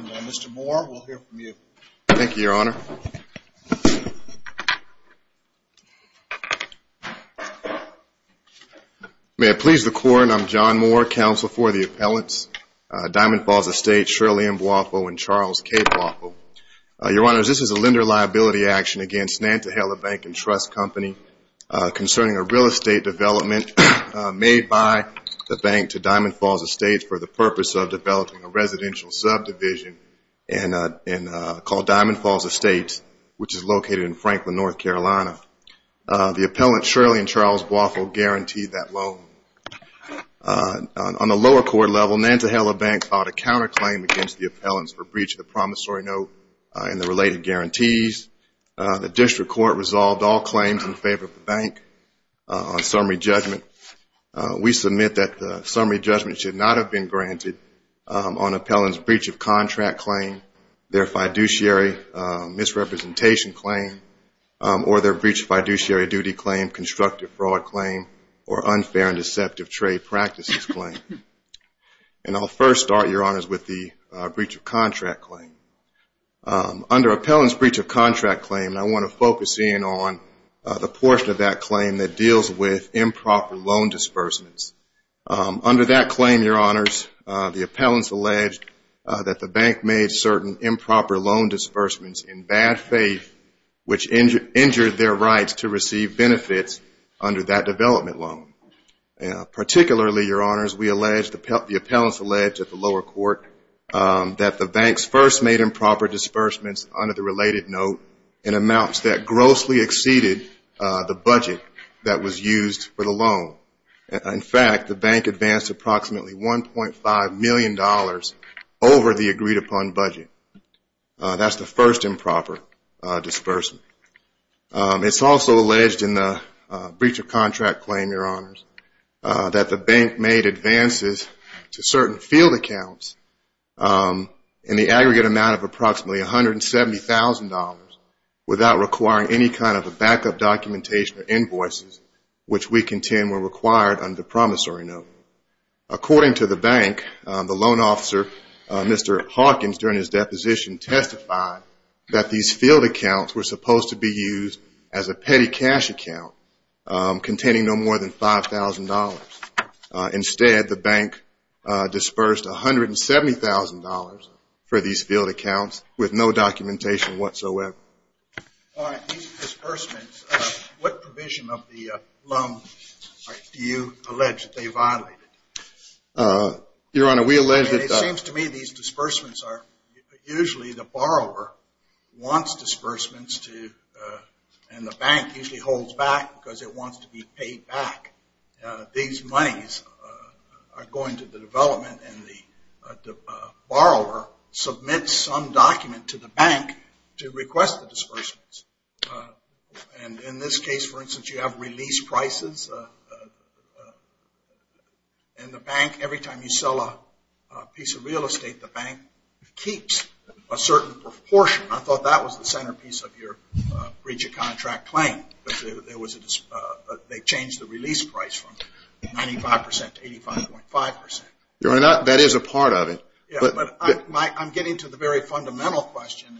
Mr. Moore, we'll hear from you. Thank you, Your Honor. May it please the Court, I'm John Moore, counsel for the appellants Diamond Falls Estates, Shirley M. Boiffo and Charles K. Boiffo. Your Honor, this is a lender liability action against Nantahala Bank & Trust Company concerning a real estate development made by the bank to Diamond Falls Estates for the purpose of developing a residential subdivision called Diamond Falls Estates which is located in Franklin, North Carolina. The appellant Shirley and Charles Boiffo guaranteed that loan. On the lower court level, Nantahala Bank filed a counter claim against the appellants for breach of the promissory note and the related guarantees. The district court resolved all claims in favor of the bank on summary judgment. We submit that breach of contract claim, their fiduciary misrepresentation claim, or their breach of fiduciary duty claim, constructive fraud claim, or unfair and deceptive trade practices claim. And I'll first start, Your Honors, with the breach of contract claim. Under appellant's breach of contract claim, I want to focus in on the portion of that claim that deals with improper loan disbursements. That the bank made certain improper loan disbursements in bad faith which injured their rights to receive benefits under that development loan. Particularly, Your Honors, we allege, the appellants allege at the lower court that the bank's first made improper disbursements under the related note in amounts that grossly exceeded the budget that was used for the loan. In fact, the bank advanced approximately 1.5 million dollars over the agreed-upon budget. That's the first improper disbursement. It's also alleged in the breach of contract claim, Your Honors, that the bank made advances to certain field accounts in the aggregate amount of approximately $170,000 without requiring any kind of a backup documentation or invoices which we contend were required under promissory note. According to the bank, the loan officer, Mr. Hawkins, during his deposition testified that these field accounts were supposed to be used as a petty cash account containing no more than $5,000. Instead, the bank dispersed $170,000 for these field accounts with no documentation whatsoever. Your Honor, these disbursements, what provision of the Your Honor, we allege that... It seems to me these disbursements are usually the borrower wants disbursements to, and the bank usually holds back because it wants to be paid back. These monies are going to the development and the borrower submits some document to the bank to request the disbursements. And in this case, for instance, you have release prices. And the bank, every time you sell a piece of real estate, the bank keeps a certain proportion. I thought that was the centerpiece of your breach of contract claim. But they changed the release price from 95% to 85.5%. Your Honor, that is a part of it. Yeah, but I'm getting to the very fundamental question.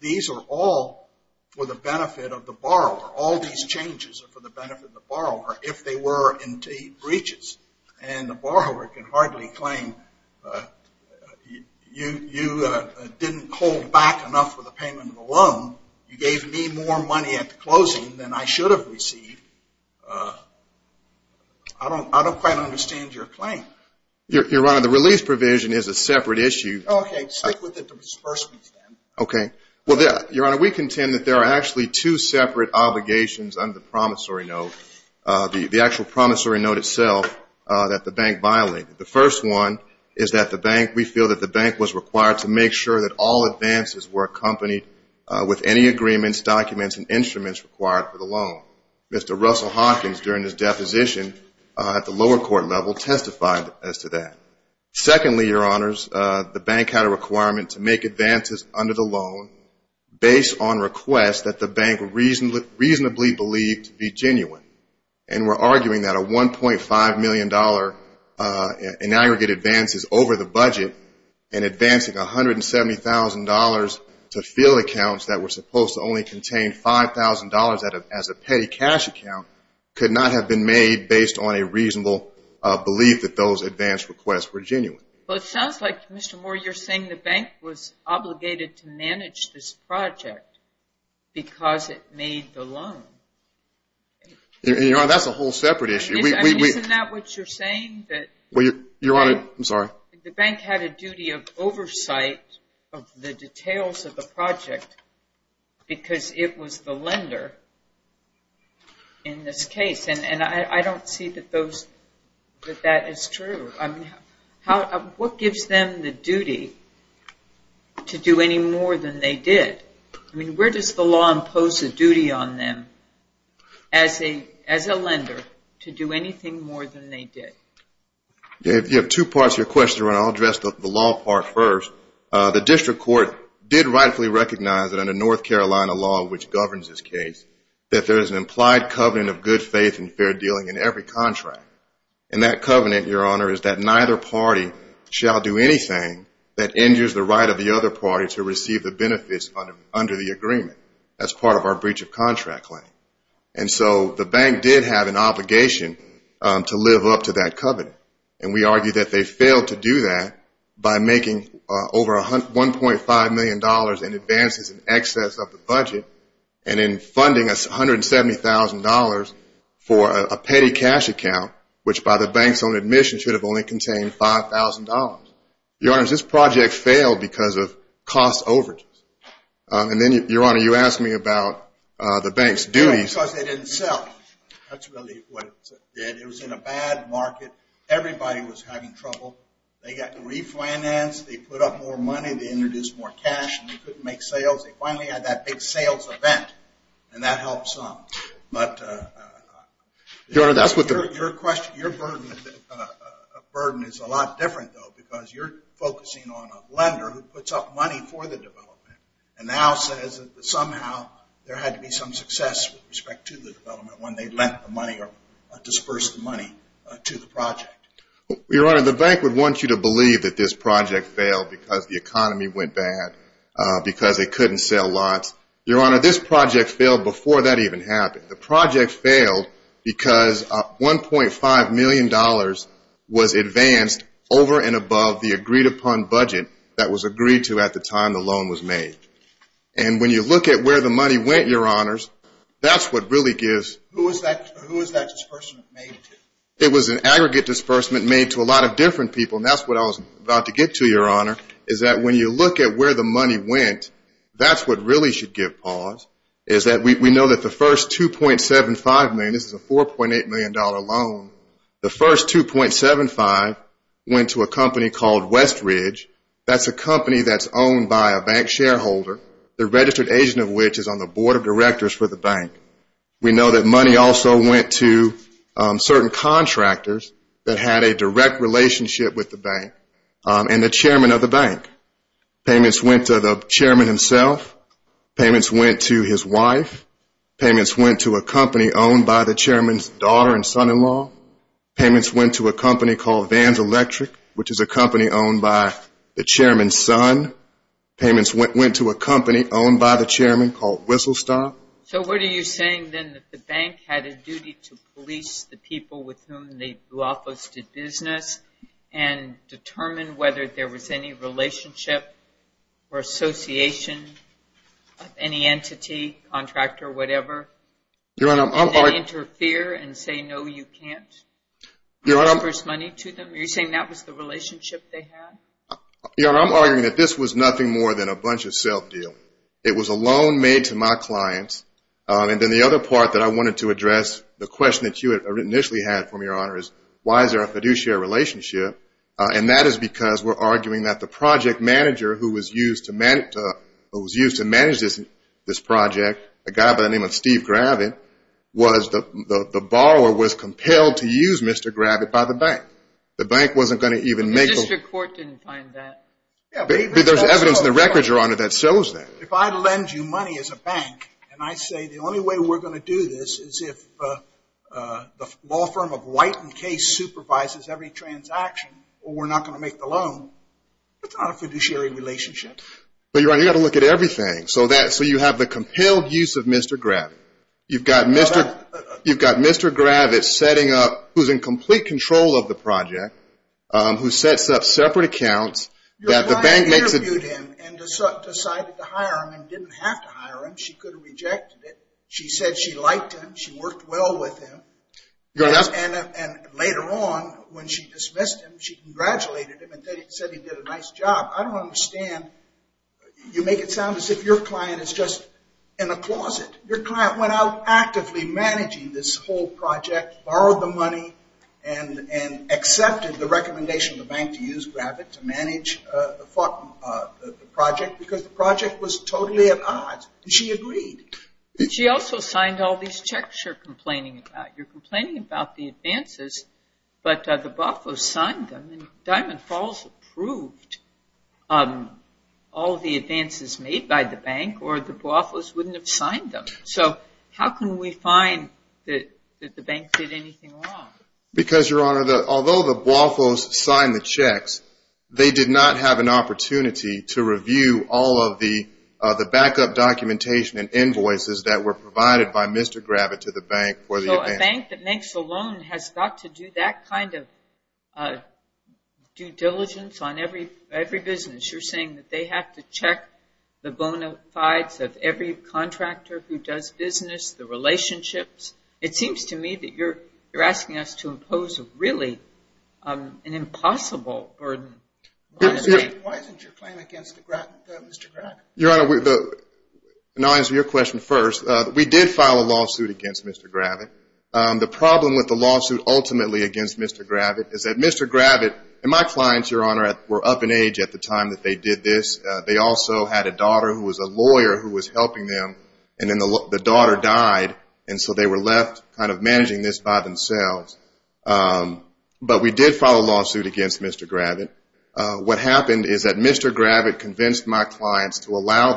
These are all for the benefit of the borrower. All these changes are for the benefit of the borrower if they were indeed breaches. And the borrower can hardly claim, you didn't hold back enough for the payment of the loan. You gave me more money at the closing than I should have received. I don't quite understand your claim. Your Honor, the release provision is a separate issue. OK, stick with the disbursements then. OK. Well, Your Honor, we contend that there are actually two separate obligations under the promissory note, the actual promissory note itself, that the bank violated. The first one is that the bank, we feel that the bank was required to make sure that all advances were accompanied with any agreements, documents, and instruments required for the loan. Mr. Russell Hawkins, during his deposition at the lower court level, testified as to that. Secondly, Your Honors, the bank had a requirement to make advances under the loan based on requests that the bank reasonably believed to be genuine, and we're arguing that a $1.5 million in aggregate advances over the budget and advancing $170,000 to field accounts that were supposed to only contain $5,000 as a petty cash account could not have been made based on a reasonable belief that those advance requests were genuine. Well, it sounds like, Mr. Moore, you're saying the bank was obligated to manage this project because it made the loan. Your Honor, that's a whole separate issue. Isn't that what you're saying? Well, Your Honor, I'm sorry. The bank had a duty of oversight of the details of the project because it was the lender in this case, and I don't see that that is true. What gives them the duty to do any more than they did? I mean, where does the law impose a duty on them as a lender to do anything more than they did? You have two parts to your question, Your Honor. I'll address the law part first. The district court did rightfully recognize that under North Carolina law, which governs this case, that there is an implied covenant of good faith and fair dealing in every contract, and that covenant, Your Honor, is that neither party shall do anything that injures the right of the other party to receive the benefits under the agreement. That's part of our breach of contract claim. And so the bank did have an obligation to live up to that covenant, and we argue that they failed to do that by making over $1.5 million in advances in excess of the budget and in funding $170,000 for a petty cash account, which by the bank's own admission should have only contained $5,000. Your Honor, this project failed because of cost overages. And then, Your Honor, you asked me about the bank's duties. Because they didn't sell. That's really what it did. It was in a bad market. Everybody was having trouble. They got refinanced. They put up more money. They introduced more cash, and they couldn't make sales. They finally had that big sales event, and that helped some. Your Honor, that's what the... Your burden is a lot different, though, because you're focusing on a lender who puts up money for the development and now says that somehow there had to be some success with respect to the development when they lent the money or dispersed the money to the project. Your Honor, the bank would want you to believe that this project failed because the economy went bad, because they couldn't sell lots. Your Honor, this project failed before that even happened. The project failed because $1.5 million was advanced over and above the agreed-upon budget that was agreed to at the time the loan was made. And when you look at where the money went, Your Honors, that's what really gives... Who was that disbursement made to? It was an aggregate disbursement made to a lot of different people, and that's what I was about to get to, Your Honor, is that when you look at where the money went, that's what really should give pause is that we know that the first $2.75 million... This is a $4.8 million loan. The first $2.75 went to a company called Westridge. That's a company that's owned by a bank shareholder, the registered agent of which is on the board of directors for the bank. We know that money also went to certain contractors that had a direct relationship with the bank and the chairman of the bank. Payments went to the chairman himself. Payments went to his wife. Payments went to a company owned by the chairman's daughter and son-in-law. Payments went to a company called Vans Electric, which is a company owned by the chairman's son. Payments went to a company owned by the chairman called WhistleStop. So what are you saying, then, that the bank had a duty to police the people with whom they do office-to-business and determine whether there was any relationship or association of any entity, contractor, whatever, and then interfere and say, no, you can't, and offer money to them? Are you saying that was the relationship they had? I'm arguing that this was nothing more than a bunch-of-self deal. It was a loan made to my clients. And then the other part that I wanted to address, the question that you initially had for me, Your Honor, is why is there a fiduciary relationship? And that is because we're arguing that the project manager who was used to manage this project, a guy by the name of Steve Gravitt, the borrower was compelled to use Mr. Gravitt by the bank. The bank wasn't going to even make a... The district court didn't find that. There's evidence in the records, Your Honor, that shows that. If I lend you money as a bank, and I say, the only way we're going to do this is if the law firm of White & Case supervises every transaction, or we're not going to make the loan, that's not a fiduciary relationship. But, Your Honor, you've got to look at everything. So you have the compelled use of Mr. Gravitt. You've got Mr. Gravitt setting up, who's in complete control of the project, who sets up separate accounts... The bank interviewed him and decided to hire him, and didn't have to hire him. She could have rejected it. She said she liked him. She worked well with him. And later on, when she dismissed him, she congratulated him and said he did a nice job. I don't understand. You make it sound as if your client is just in a closet. Your client went out actively managing this whole project, borrowed the money, and accepted the recommendation of the bank to use Gravitt to manage the project, because the project was totally at odds. And she agreed. She also signed all these checks you're complaining about. You're complaining about the advances, but the Boafos signed them, and Diamond Falls approved all the advances made by the bank, or the Boafos wouldn't have signed them. So how can we find that the bank did anything wrong? Because, Your Honor, although the Boafos signed the checks, they did not have an opportunity to review all of the backup documentation and invoices that were provided by Mr. Gravitt to the bank for the advance. So a bank that makes a loan has got to do that kind of due diligence on every business? You're saying that they have to check the bona fides of every contractor who does business, the relationships? It seems to me that you're asking us to impose really an impossible burden. Why isn't your claim against Mr. Gravitt? Your Honor, I'll answer your question first. We did file a lawsuit against Mr. Gravitt. The problem with the lawsuit ultimately against Mr. Gravitt is that Mr. Gravitt and my clients, Your Honor, were up in age at the time that they did this. They also had a daughter who was a lawyer who was helping them. And then the daughter died, and so they were left kind of managing this by themselves. But we did file a lawsuit against Mr. Gravitt. What happened is that Mr. Gravitt convinced my clients to allow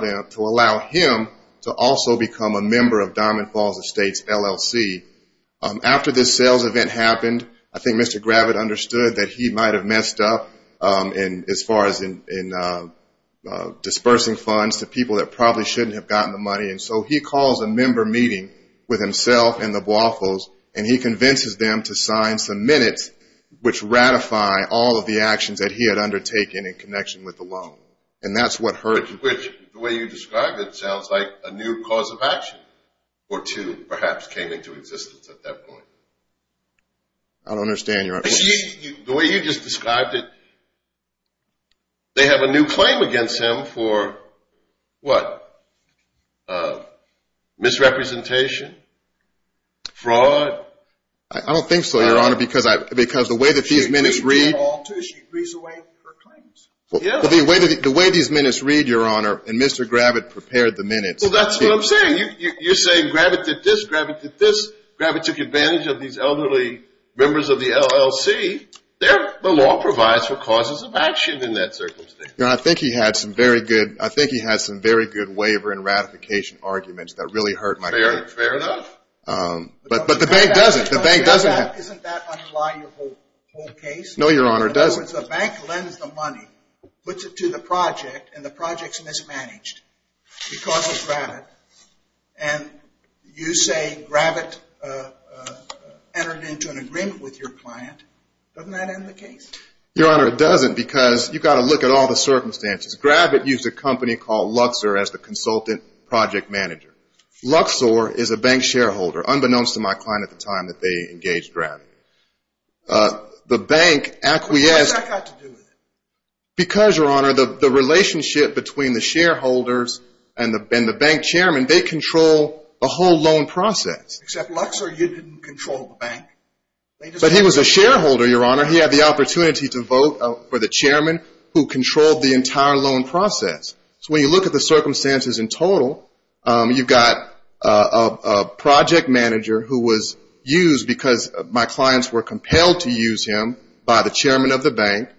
him to also become a member of Diamond Falls Estates LLC. After this sales event happened, I think Mr. Gravitt understood that he might have messed up as far as dispersing funds to people that probably shouldn't have gotten the money. And so he calls a member meeting with himself and the Waffles, and he convinces them to sign some minutes which ratify all of the actions that he had undertaken in connection with the loan. And that's what hurt him. Which, the way you described it, sounds like a new cause of action or two perhaps came into existence at that point. I don't understand, Your Honor. The way you just described it, they have a new claim against him for what? Misrepresentation? Fraud? I don't think so, Your Honor, because the way that these minutes read... She agrees with them all, too. She agrees with her claims. The way these minutes read, Your Honor, and Mr. Gravitt prepared the minutes... Well, that's what I'm saying. You're saying Gravitt did this, Gravitt did this, Gravitt took advantage of these elderly members of the LLC. The law provides for causes of action in that circumstance. Your Honor, I think he had some very good waiver and ratification arguments that really hurt my case. Fair enough. But the bank doesn't. No, Your Honor, it doesn't. In other words, the bank lends the money, puts it to the project, and the project's mismanaged because of Gravitt. And you say Gravitt entered into an agreement with your client. Doesn't that end the case? Your Honor, it doesn't, because you've got to look at all the circumstances. Gravitt used a company called Luxor as the consultant project manager. Luxor is a bank shareholder, unbeknownst to my client at the time that they engaged Gravitt. The bank acquiesced... But what's that got to do with it? Because, Your Honor, the relationship between the shareholders and the bank chairman, they control the whole loan process. Except Luxor, you didn't control the bank. But he was a shareholder, Your Honor. He had the opportunity to vote for the chairman who controlled the entire loan process. So when you look at the circumstances in total, you've got a project manager who was used because my clients were compelled to use him by the chairman of the bank.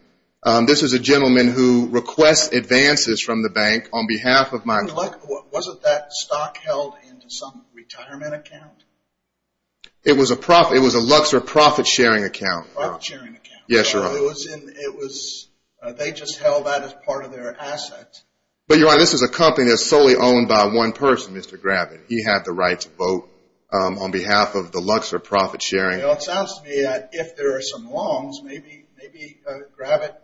This is a gentleman who requests advances from the bank on behalf of my client. Wasn't that stock held in some retirement account? It was a Luxor profit-sharing account. Profit-sharing account. They just held that as part of their asset. But, Your Honor, this is a company that's solely owned by one person, Mr. Gravitt. He had the right to vote on behalf of the Luxor profit-sharing... Well, it sounds to me that if there are some wrongs, maybe Gravitt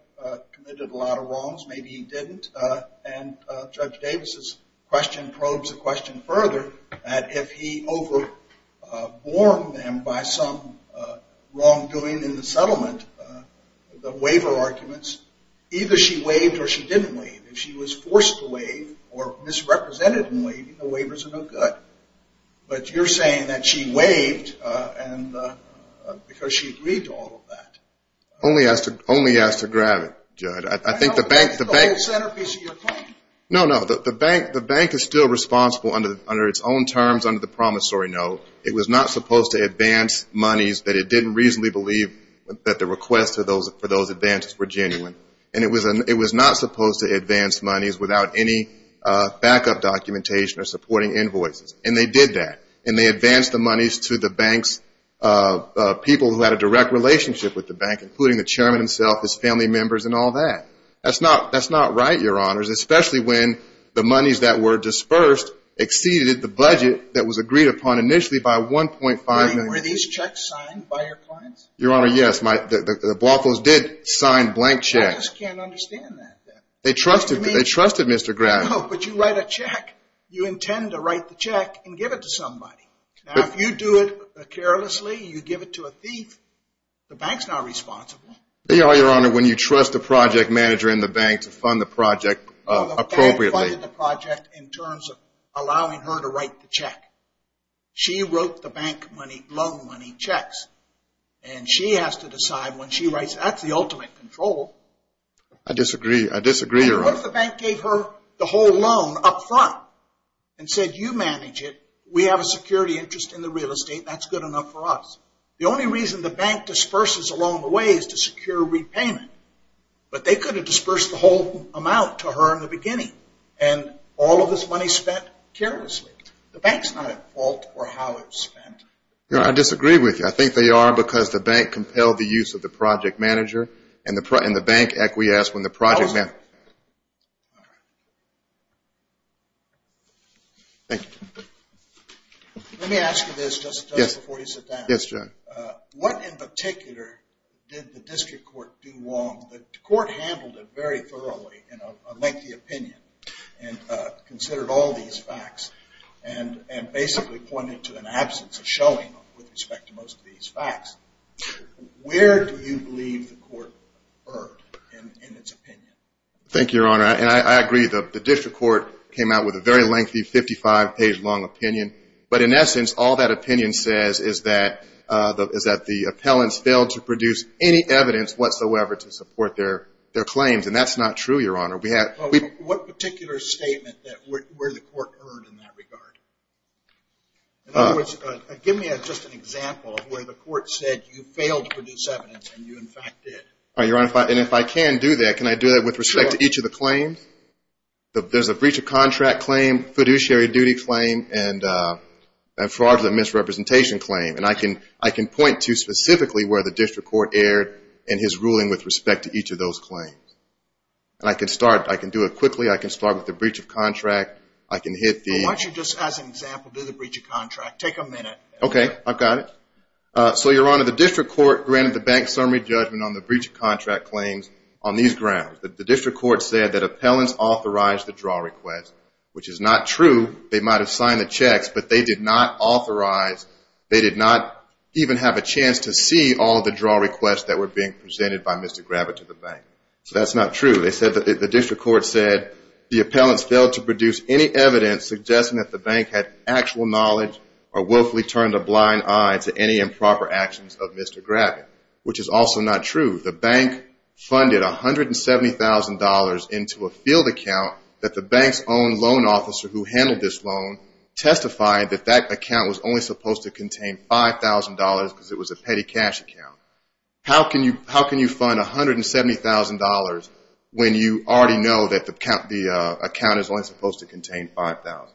committed a lot of wrongs. Maybe he didn't. And Judge Davis' question probes the question further that if he overborne them by some wrongdoing in the settlement, the waiver arguments, either she waived or she didn't waive. If she was forced to waive or misrepresented in waiving, the waivers are no good. But you're saying that she waived because she agreed to all of that. Only as to Gravitt, Judge. The bank is still responsible under its own terms under the promissory note. It was not supposed to advance monies that it didn't reasonably believe that the requests for those advances were genuine. And it was not supposed to advance monies without any backup documentation or supporting invoices. And they did that. And they advanced the monies to the bank's people who had a direct relationship with the bank, including the chairman himself, his family members, and all that. That's not right, Your Honors, especially when the monies that were dispersed exceeded the budget that was agreed upon initially by 1.5 million. Were these checks signed by your clients? Your Honor, yes, the Bluffos did sign blank checks. I just can't understand that. They trusted Mr. Gravitt. No, but you write a check. You intend to write the check and give it to somebody. Now, if you do it carelessly, you give it to a thief, the bank's not responsible. Your Honor, when you trust the project manager in the bank to fund the project appropriately... The bank funded the project in terms of allowing her to write the check. She wrote the bank loan money checks. And she has to decide when she writes. That's the ultimate control. I disagree, Your Honor. And what if the bank gave her the whole loan up front and said, you manage it, we have a security interest in the real estate, that's good enough for us. The only reason the bank disperses along the way is to secure repayment. But they could have dispersed the whole amount to her in the beginning and all of this money spent carelessly. The bank's not at fault for how it's spent. Your Honor, I disagree with you. I think they are because the bank compelled the use of the project manager and the bank acquiesced when the project manager... Thank you. Let me ask you this just before you sit down. Yes, Judge. What in particular did the district court do wrong? The court handled it very thoroughly in a lengthy opinion and considered all these facts and basically pointed to an absence of showing with respect to most of these facts. Where do you believe the court erred in its opinion? Thank you, Your Honor. I agree. The district court came out with a very lengthy, 55-page long opinion. But in essence, all that opinion says is that the appellants failed to produce any evidence whatsoever to support their claims. And that's not true, Your Honor. What particular statement were the court erred in that regard? In other words, give me just an example where the court said you failed to produce evidence and you in fact did. And if I can do that, can I do that with respect to each of the claims? There's a breach of contract claim, fiduciary duty claim, and a fraudulent misrepresentation claim. And I can point to specifically where the district court erred in his ruling with respect to each of those claims. And I can do it quickly. I can start with the breach of contract. Why don't you just as an example do the breach of contract? Take a minute. Okay, I've got it. So, Your Honor, the district court granted the bank summary judgment on the breach of contract claims on these grounds. The district court said that appellants authorized the draw request, which is not true. They might have signed the checks, but they did not authorize, they did not even have a chance to see all of the draw requests that were being presented by Mr. Gravitt to the bank. So that's not true. The district court said the appellants failed to produce any evidence suggesting that the bank had actual knowledge or willfully turned a blind eye to any improper actions of Mr. Gravitt, which is also not true. The bank funded $170,000 into a field account that the bank's own loan officer who handled this loan testified that that account was only supposed to contain $5,000 because it was a petty cash account. How can you fund $170,000 when you already know that the account is only supposed to contain $5,000?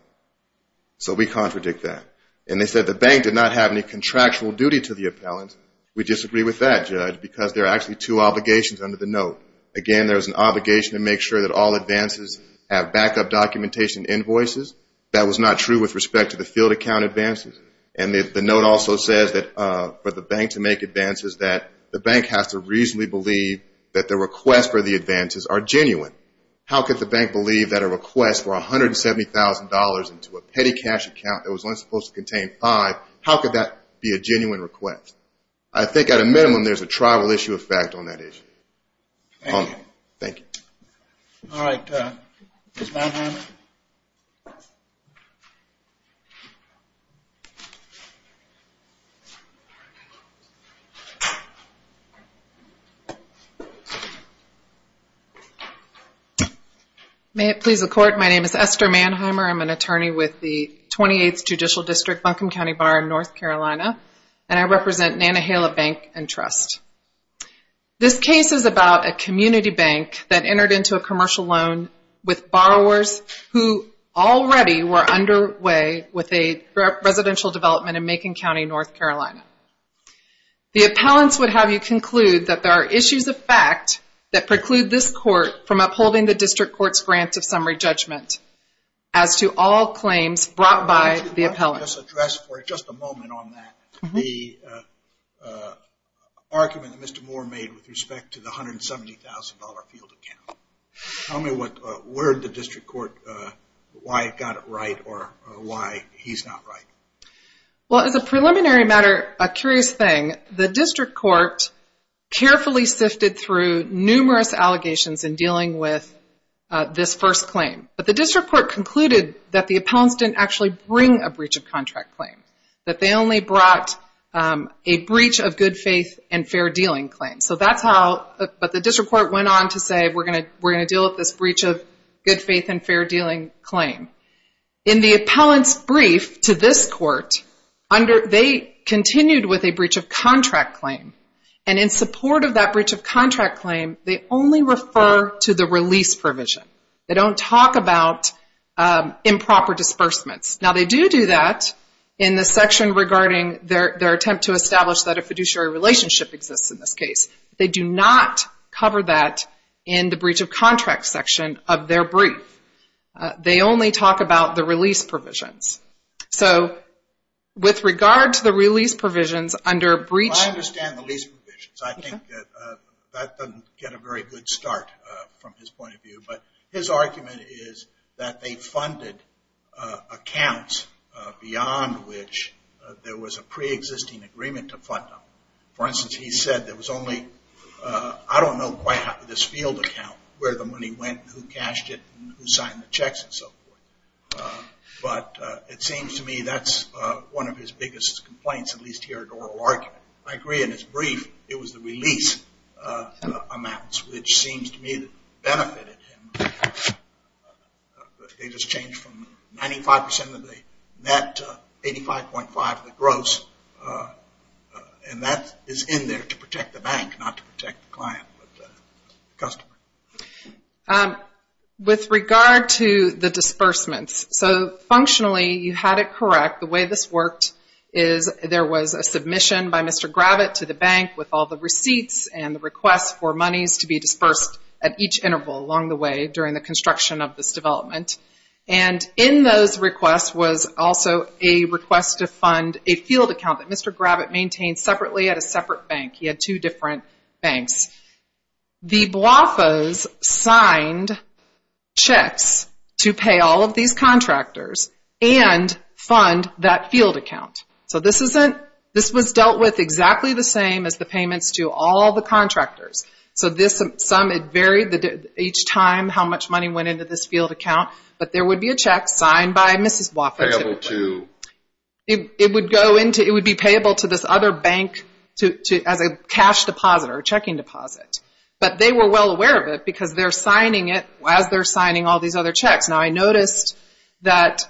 So we contradict that. And they said the bank did not have any contractual duty to the appellant. We disagree with that, Judge, because there are actually two obligations under the note. Again, there's an obligation to make sure that all advances have backup documentation invoices. That was not true with respect to the field account advances. And the note also says that for the bank to make advances that the bank has to reasonably believe that the request for the advances are genuine. How could the bank believe that a request for $170,000 into a petty cash account that was only supposed to contain $5,000, how could that be a genuine request? I think at a minimum there's a tribal issue effect on that issue. Thank you. All right. Ms. Manhattan. May it please the Court. My name is Esther Manheimer. I'm an attorney with the 28th Judicial District, Buncombe County Bar in North Carolina. And I represent Nantahala Bank and Trust. This case is about a community bank that entered into a commercial loan with borrowers who already were underway with a residential development in Macon County, North Carolina. The appellants would have you conclude that there are issues of fact that preclude this Court from upholding the District Court's grant of summary judgment as to all claims brought by the appellant. Why don't you let us address for just a moment on that the argument that Mr. Moore made with respect to the $170,000 field account. Tell me what word the District Court, why it got it right or why he's not right. Well, as a preliminary matter, a curious thing. The District Court carefully sifted through numerous allegations in dealing with this first claim. But the District Court concluded that the appellants didn't actually bring a breach of contract claim. That they only brought a breach of good faith and fair dealing claim. But the District Court went on to say we're going to deal with this breach of good faith and fair dealing claim. In the appellant's brief to this Court, they continued with a breach of contract claim. And in support of that breach of contract claim, they only refer to the release provision. They don't talk about improper disbursements. Now they do do that in the section regarding their attempt to establish that a fiduciary relationship exists in this case. They do not cover that in the breach of contract section of their brief. They only talk about the release provisions. So with regard to the release provisions under breach... I understand the release provisions. I think that doesn't get a very good start from his point of view. But his argument is that they funded accounts beyond which there was a pre-existing agreement to fund them. For instance, he said there was only I don't know quite how this field account where the money went, who cashed it, who signed the checks and so forth. But it seems to me that's one of his biggest complaints, at least here at oral argument. I agree in his brief it was the release amounts which seems to me that benefited him. They just changed from 95% of the net to 85.5% of the gross. And that is in there to protect the bank not to protect the client. With regard to the disbursements. So functionally you had it correct. The way this worked is there was a submission by Mr. Gravitt to the bank with all the receipts and the request for monies to be dispersed at each interval along the way during the construction of this development. And in those requests was also a request to fund a field account that Mr. Gravitt maintained separately at a separate bank. He had two different banks. The BWAFAs signed checks to pay all of these contractors and fund that field account. So this was dealt with exactly the same as the payments to all the contractors. So each time how much money went into this field account. But there would be a check signed by Mrs. BWAFA typically. It would be payable to this other bank as a cash deposit or checking deposit. But they were well aware of it because they're signing it as they're signing all these other checks. Now I noticed that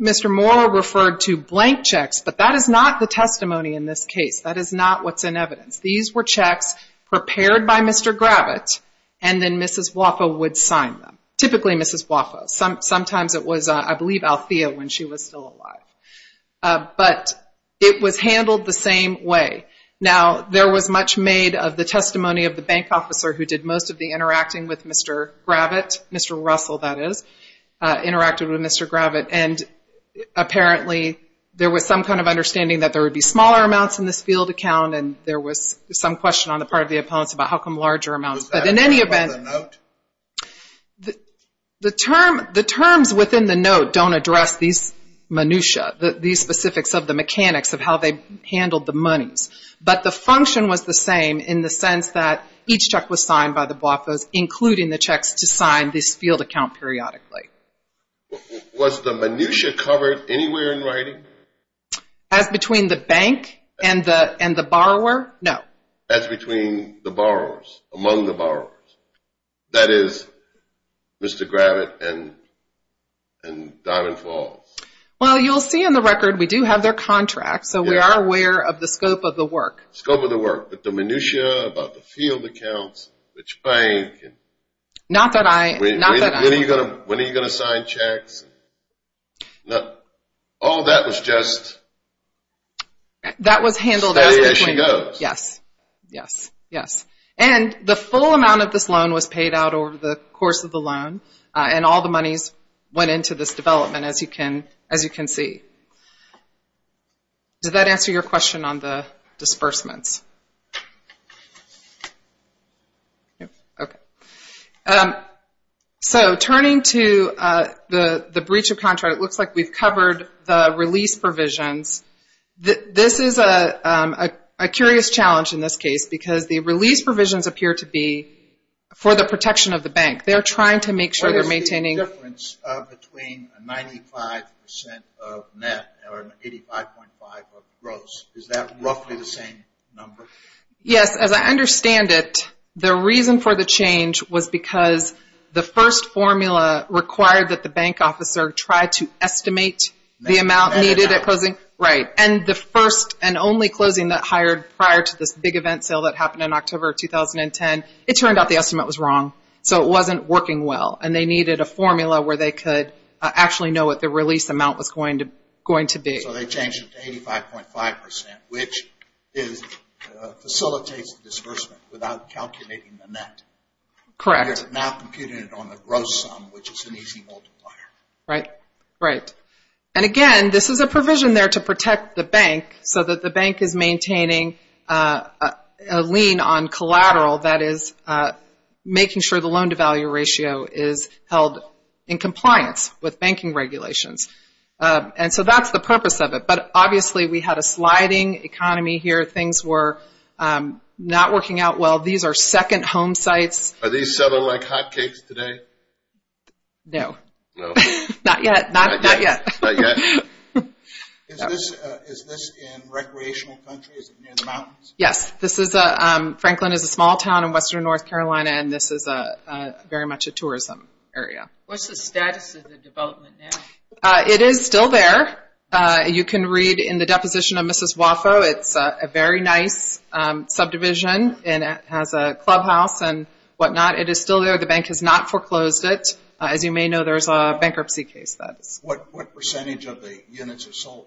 Mr. Moore referred to blank checks but that is not the testimony in this case. That is not what's in evidence. These were checks prepared by Mr. Gravitt and then Mrs. BWAFA would sign them. Typically Mrs. BWAFA. Sometimes it was I believe Althea when she was still alive. But it was handled the same way. Now there was much made of the testimony of the bank officer who did most of the interacting with Mr. Gravitt. Mr. Russell that is. Interacted with Mr. Gravitt and apparently there was some kind of understanding that there would be smaller amounts in this field account and there was some question on the part of the opponents about how come larger amounts. Was that a note? The terms within the note don't address these minutia. These specifics of the mechanics of how they handled the monies. But the function was the same in the sense that each check was signed by the BWAFA's including the checks to sign this field account periodically. Was the minutia covered anywhere in writing? As between the bank and the borrowers. Among the borrowers. That is Mr. Gravitt and Diamond Falls. Well you'll see in the record we do have their contract so we are aware of the scope of the work. Scope of the work. But the minutia about the field accounts which bank. Not that I When are you going to sign checks? All that was just That was handled Yes. And the full amount of this loan was paid out over the course of the loan and all the monies went into this development as you can see. Does that answer your question on the disbursements? So turning to the breach of contract it looks like we've covered the release provisions. This is a curious challenge in this case because the release provisions appear to be for the protection of the bank. They're trying to make sure they're maintaining What is the difference between 95% of net or 85.5 of gross? Is that roughly the same number? Yes as I understand it the reason for the change was because the first formula required that the bank officer tried to estimate the amount needed at closing and the first and only closing that hired prior to this big event sale that happened in October 2010 it turned out the estimate was wrong. So it wasn't working well and they needed a formula where they could actually know what the release amount was going to be. So they changed it to 85.5% which facilitates the disbursement without calculating the net. Correct. Right. And again this is a provision there to protect the bank so that the bank is maintaining a lien on collateral that is making sure the loan to value ratio is held in compliance with banking regulations. And so that's the purpose of it. But obviously we had a sliding economy here. Things were not working out well. These are second home sites. Are these settled like hot cakes today? No. Not yet. Not yet. Is this in recreational country? Is it near the mountains? Yes. Franklin is a small town in western North Carolina and this is very much a tourism area. What's the status of the development now? It is still there. You can read in the deposition of Mrs. Waffo it's a very nice subdivision and it has a clubhouse and what not. It is still there. The bank has not foreclosed it. As you may know there's a bankruptcy case. What percentage of the units are sold?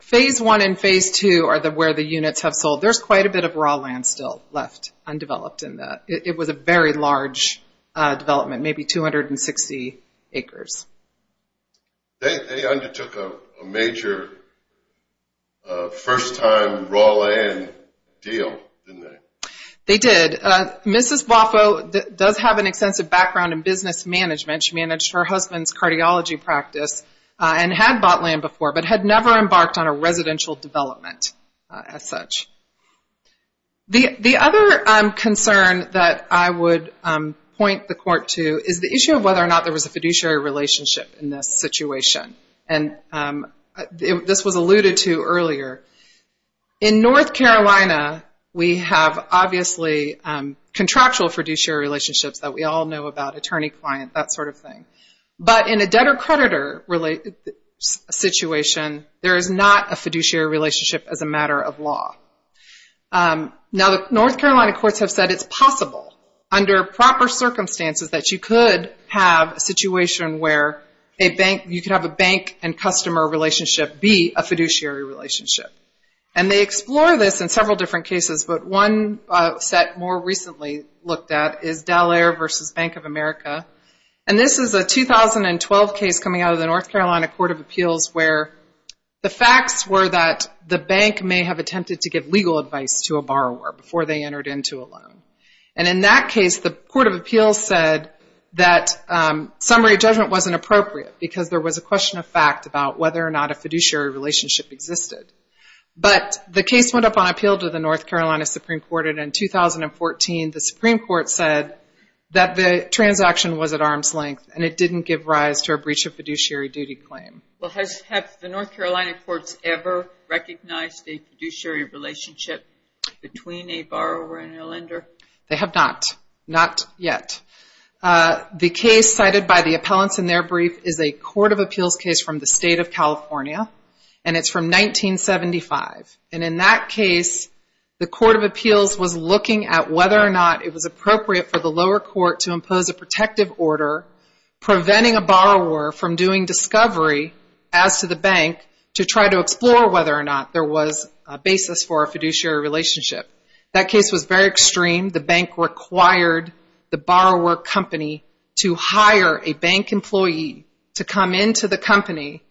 Phase 1 and Phase 2 are where the units have sold. There's quite a bit of raw land still left undeveloped in that. It was a very large development. Maybe 260 acres. They undertook a major first time raw land deal, didn't they? They did. Mrs. Waffo does have an extensive background in business management. She managed her husband's cardiology practice and had bought land before but had never embarked on a residential development as such. The other concern that I would point the court to is the issue of whether or not there was a fiduciary relationship in this situation. This was alluded to earlier. In North Carolina we have obviously contractual fiduciary relationships that we all know about, attorney-client, that sort of thing. In a debtor-creditor situation there is not a fiduciary relationship as a matter of law. North Carolina courts have said it's possible under proper situation where you can have a bank and customer relationship be a fiduciary relationship. They explore this in several different cases but one set more recently looked at is Dallaire v. Bank of America. This is a 2012 case coming out of the North Carolina Court of Appeals where the facts were that the bank may have attempted to give legal advice to a borrower before they entered into a loan. In that case the Court of Appeals said that summary judgment wasn't appropriate because there was a question of fact about whether or not a fiduciary relationship existed. But the case went up on appeal to the North Carolina Supreme Court and in 2014 the Supreme Court said that the transaction was at arm's length and it didn't give rise to a breach of fiduciary duty claim. Have the North Carolina courts ever recognized a fiduciary relationship between a borrower and a lender? They have not. Not yet. The case cited by the appellants in their brief is a Court of Appeals case from the state of California and it's from 1975. And in that case the Court of Appeals was looking at whether or not it was appropriate for the lower court to impose a protective order preventing a borrower from doing discovery as to the bank to try to explore whether or not there was a basis for a fiduciary relationship. That case was very extreme. The bank required the borrower company to hire a bank employee to come into the company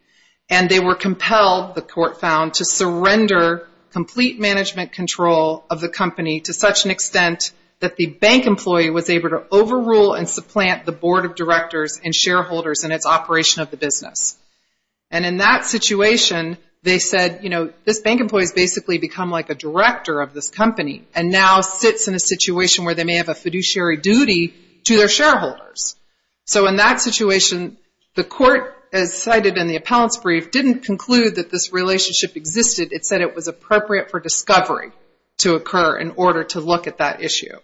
and they were compelled, the court found, to surrender complete management control of the company to such an extent that the bank employee was able to overrule and supplant the board of directors and shareholders in its operation of the business. And in that situation they said this bank employee has basically become like a director of this company and now sits in a situation where they may have a fiduciary duty to their shareholders. So in that situation the court, as cited in the appellant's brief, didn't conclude that this relationship existed. It said it was appropriate for discovery to occur in order to look at that issue.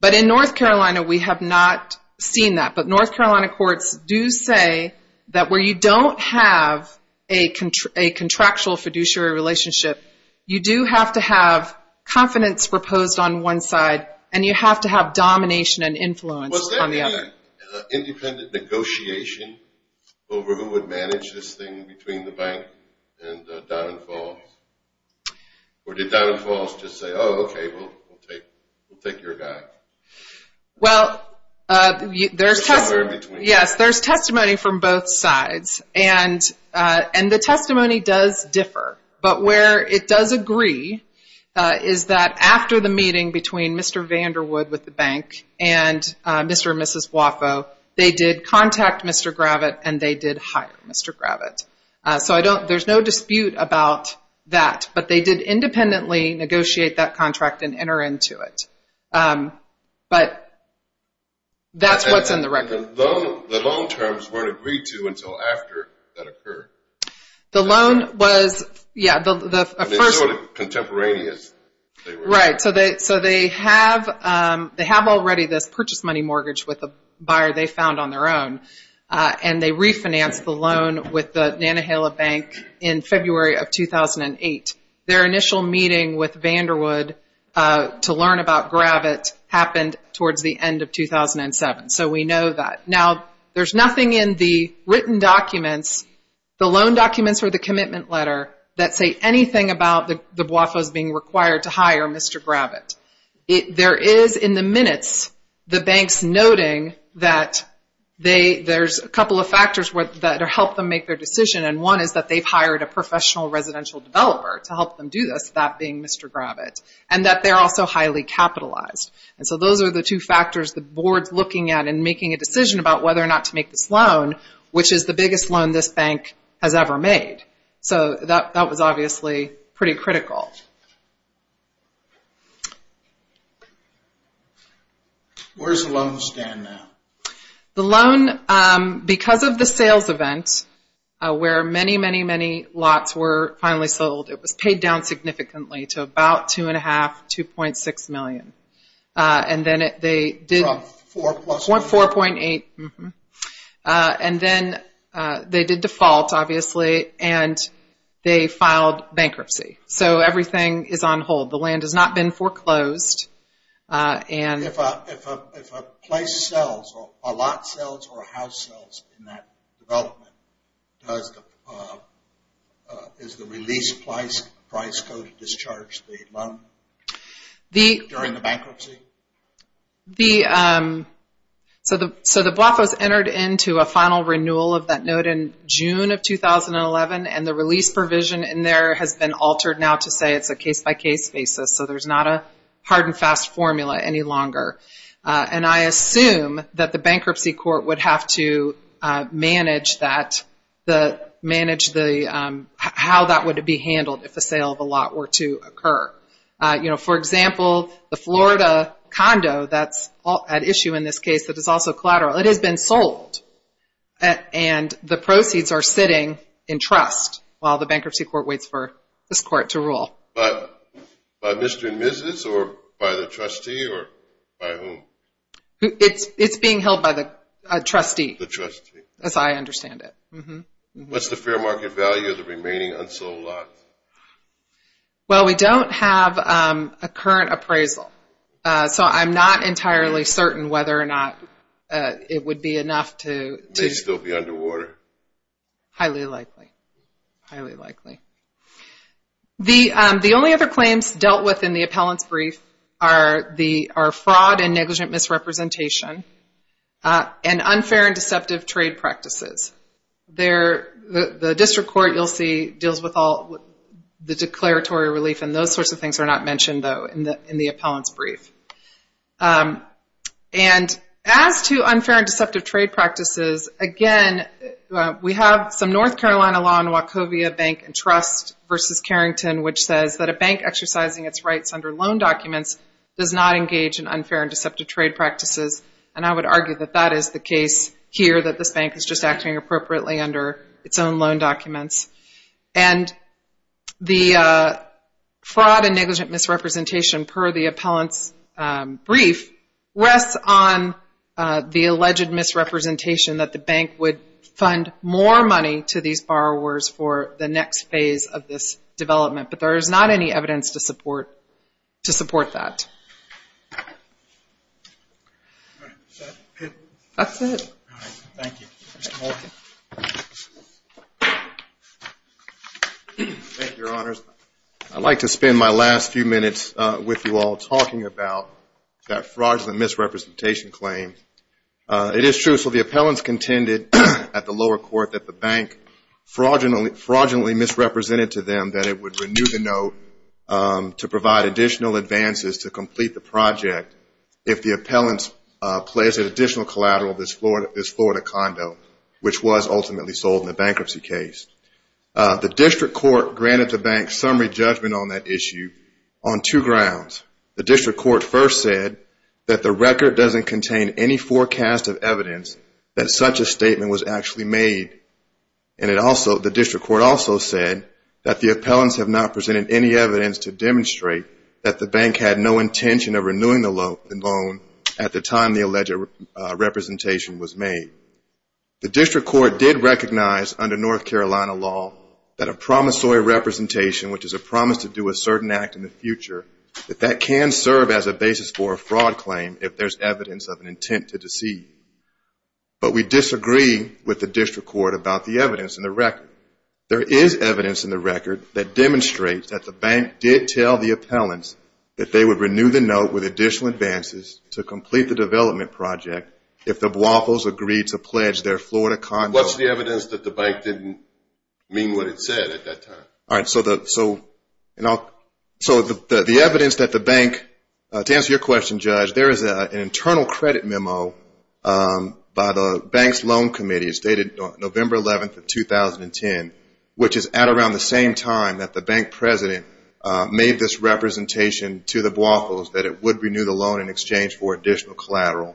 But in North Carolina we have not seen that. But North Carolina courts do say that where you don't have a contractual fiduciary relationship, you do have to have confidence reposed on one side and you have to have domination and influence on the other. Was there any independent negotiation over who would manage this thing between the bank and Don and Falls? Or did Don and Falls just say, oh, okay, we'll take your guy? There's testimony from both sides and the testimony does differ. But where it does agree is that after the meeting between Mr. Vanderwood with the bank and Mr. and Mrs. Waffo, they did contact Mr. Gravitt and they did hire Mr. Gravitt. So there's no dispute about that. But they did independently negotiate that contract and enter into it. But that's what's in the record. The loan terms weren't agreed to until after that occurred? Yeah. Right. So they have already this purchase money mortgage with the buyer they found on their own and they refinanced the loan with the Nantahala Bank in February of 2008. Their initial meeting with Vanderwood to learn about Gravitt happened towards the end of 2007. So we know that. Now, there's nothing in the written documents the loan documents or the commitment letter that say anything about the Waffos being required to hire Mr. Gravitt. There is in the minutes the banks noting that there's a couple of factors that help them make their decision. And one is that they've hired a professional residential developer to help them do this, that being Mr. Gravitt. And that they're also highly capitalized. So those are the two factors the board's looking at in making a decision about whether or not to make this loan, which is the biggest loan this bank has ever made. So that was obviously pretty critical. Where does the loan stand now? The loan, because of the sales event where many, many, many lots were finally sold, it was paid down significantly to about 2.5 to 2.6 million. 4.8 And then they did default obviously and they filed bankruptcy. So everything is on hold. The land has not been foreclosed. If a place sells, a lot sells or a house sells in that development is the release price code to discharge the loan during the bankruptcy? So the Waffos entered into a final renewal of that note in June of 2011 and the release provision in there has been altered now to say it's a case by case basis. So there's not a hard and fast formula any longer. And I assume that the bankruptcy court would have to manage how that would be handled if a sale of a lot were to occur. For example, the Florida condo that's at issue in this case that is also collateral, it has been sold and the proceeds are sitting in trust while the bankruptcy court waits for this court to rule. By Mr. and Mrs. or by the trustee? It's being held by the trustee as I understand it. What's the fair market value of the remaining unsold lot? Well, we don't have a current appraisal. So I'm not entirely certain whether or not it would be enough to... It may still be underwater. Highly likely. The only other claims dealt with in the appellant's brief are fraud and negligent misrepresentation and unfair and deceptive trade practices. The district court you'll see deals with all the declaratory relief and those sorts of things are not mentioned though in the appellant's brief. And as to unfair and deceptive trade practices, again, we have some North Carolina law in Wachovia Bank and Trust versus Carrington which says that a bank exercising its rights under loan documents does not engage in unfair and deceptive trade practices. And I would argue that that is the case here that this bank is just acting appropriately under its own loan documents. And the fraud and negligent misrepresentation per the appellant's brief rests on the alleged misrepresentation that the bank would fund more money to these borrowers for the next phase of this development. But there is not any evidence to support that. That's it. Thank you. I'd like to spend my last few minutes with you all talking about that fraudulent misrepresentation claim. It is true. So the appellants contended at the lower court that the bank fraudulently misrepresented to them that it would renew the note to provide additional advances to complete the project if the appellants placed an additional collateral of this Florida condo which was ultimately sold in the bankruptcy case. The district court granted the grounds. The district court first said that the record doesn't contain any forecast of evidence that such a statement was actually made. And the district court also said that the appellants have not presented any evidence to demonstrate that the bank had no intention of renewing the loan at the time the alleged representation was made. The district court did recognize under North Carolina law that a promissory representation which is a promise to do a certain act in the future that that can serve as a basis for a fraud claim if there's evidence of an intent to deceive. But we disagree with the district court about the evidence in the record. There is evidence in the record that demonstrates that the bank did tell the appellants that they would renew the note with additional advances to complete the development project if the Waffles agreed to pledge their Florida condo. What's the evidence that the So the evidence that the bank to answer your question, Judge, there is an internal credit memo by the bank's loan committee stated November 11th of 2010 which is at around the same time that the bank president made this representation to the Waffles that it would renew the loan in exchange for additional collateral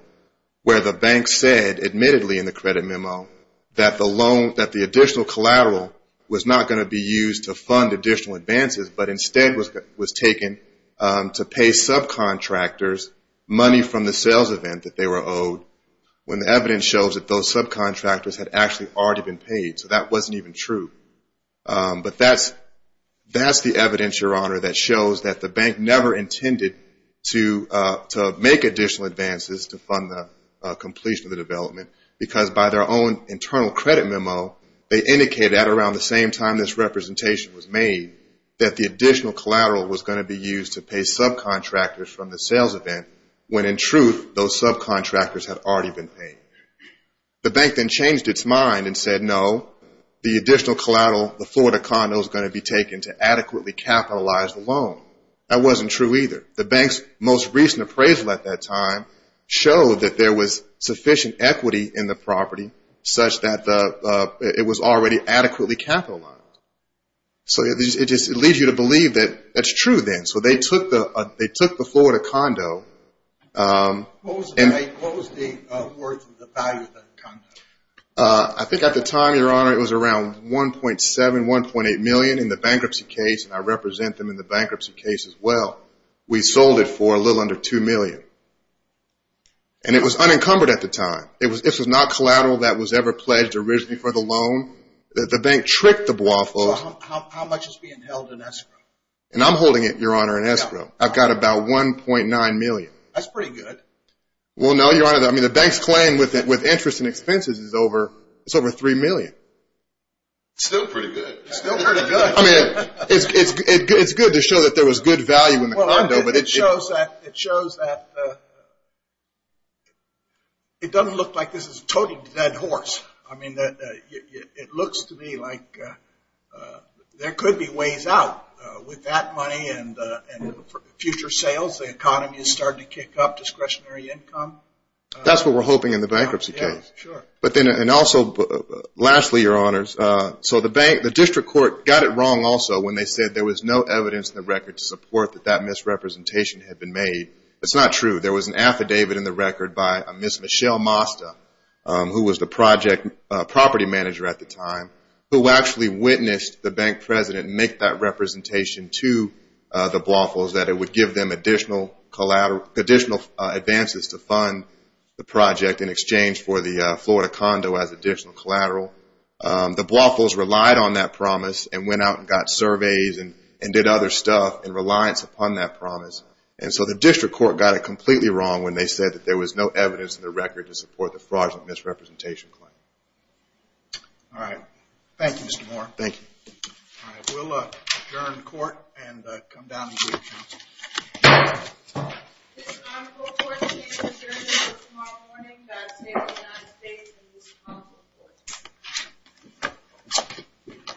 where the bank said admittedly in the credit memo that the loan, that the additional collateral was not going to be used to fund additional advances but instead was taken to pay subcontractors money from the sales event that they were owed when the evidence shows that those subcontractors had actually already been paid. So that wasn't even true. But that's the evidence, Your Honor, that shows that the bank never intended to make additional advances to fund the completion of the development because by their own internal credit memo they indicated at around the same time this representation was made that the additional collateral was going to be used to pay subcontractors from the sales event when in truth those subcontractors had already been paid. The bank then changed its mind and said no, the additional collateral, the Florida condo is going to be taken to adequately capitalize the loan. That wasn't true either. The bank's most recent appraisal at that time showed that there was sufficient equity in the property such that it was already adequately capitalized. So it just leads you to believe that that's true then. So they took the Florida condo What was the worth of the value of that condo? I think at the time, Your Honor, it was around 1.7, 1.8 million in the bankruptcy case and I represent them in the bankruptcy case as well. We sold it for a little under 2 million. And it was unencumbered at the time. It was not collateral that was ever pledged originally for the loan. The bank tricked the Waffles. How much is being held in escrow? And I'm holding it, Your Honor, in escrow. I've got about 1.9 million. That's pretty good. Well, no, Your Honor, I mean the bank's claim with interest and expenses is over 3 million. Still pretty good. It's good to show that there was good value in the It doesn't look like this is a totally dead horse. I mean, it looks to me like there could be ways out with that money and future sales. The economy is starting to kick up, discretionary income. That's what we're hoping in the bankruptcy case. And also, lastly, Your Honors, the district court got it wrong also when they said there was no evidence in the record to support that that misrepresentation had been made. That's not true. There was an affidavit in the record by Miss Michelle Mosta, who was the property manager at the time, who actually witnessed the bank president make that representation to the Waffles that it would give them additional advances to fund the project in exchange for the Florida condo as additional collateral. The Waffles relied on that promise and went out and got surveys and did other stuff in reliance upon that promise. So the district court got it completely wrong when they said there was no evidence in the record to support the fraudulent misrepresentation claim. Alright. Thank you, Mr. Moore. Thank you. We'll adjourn court and come down and meet again.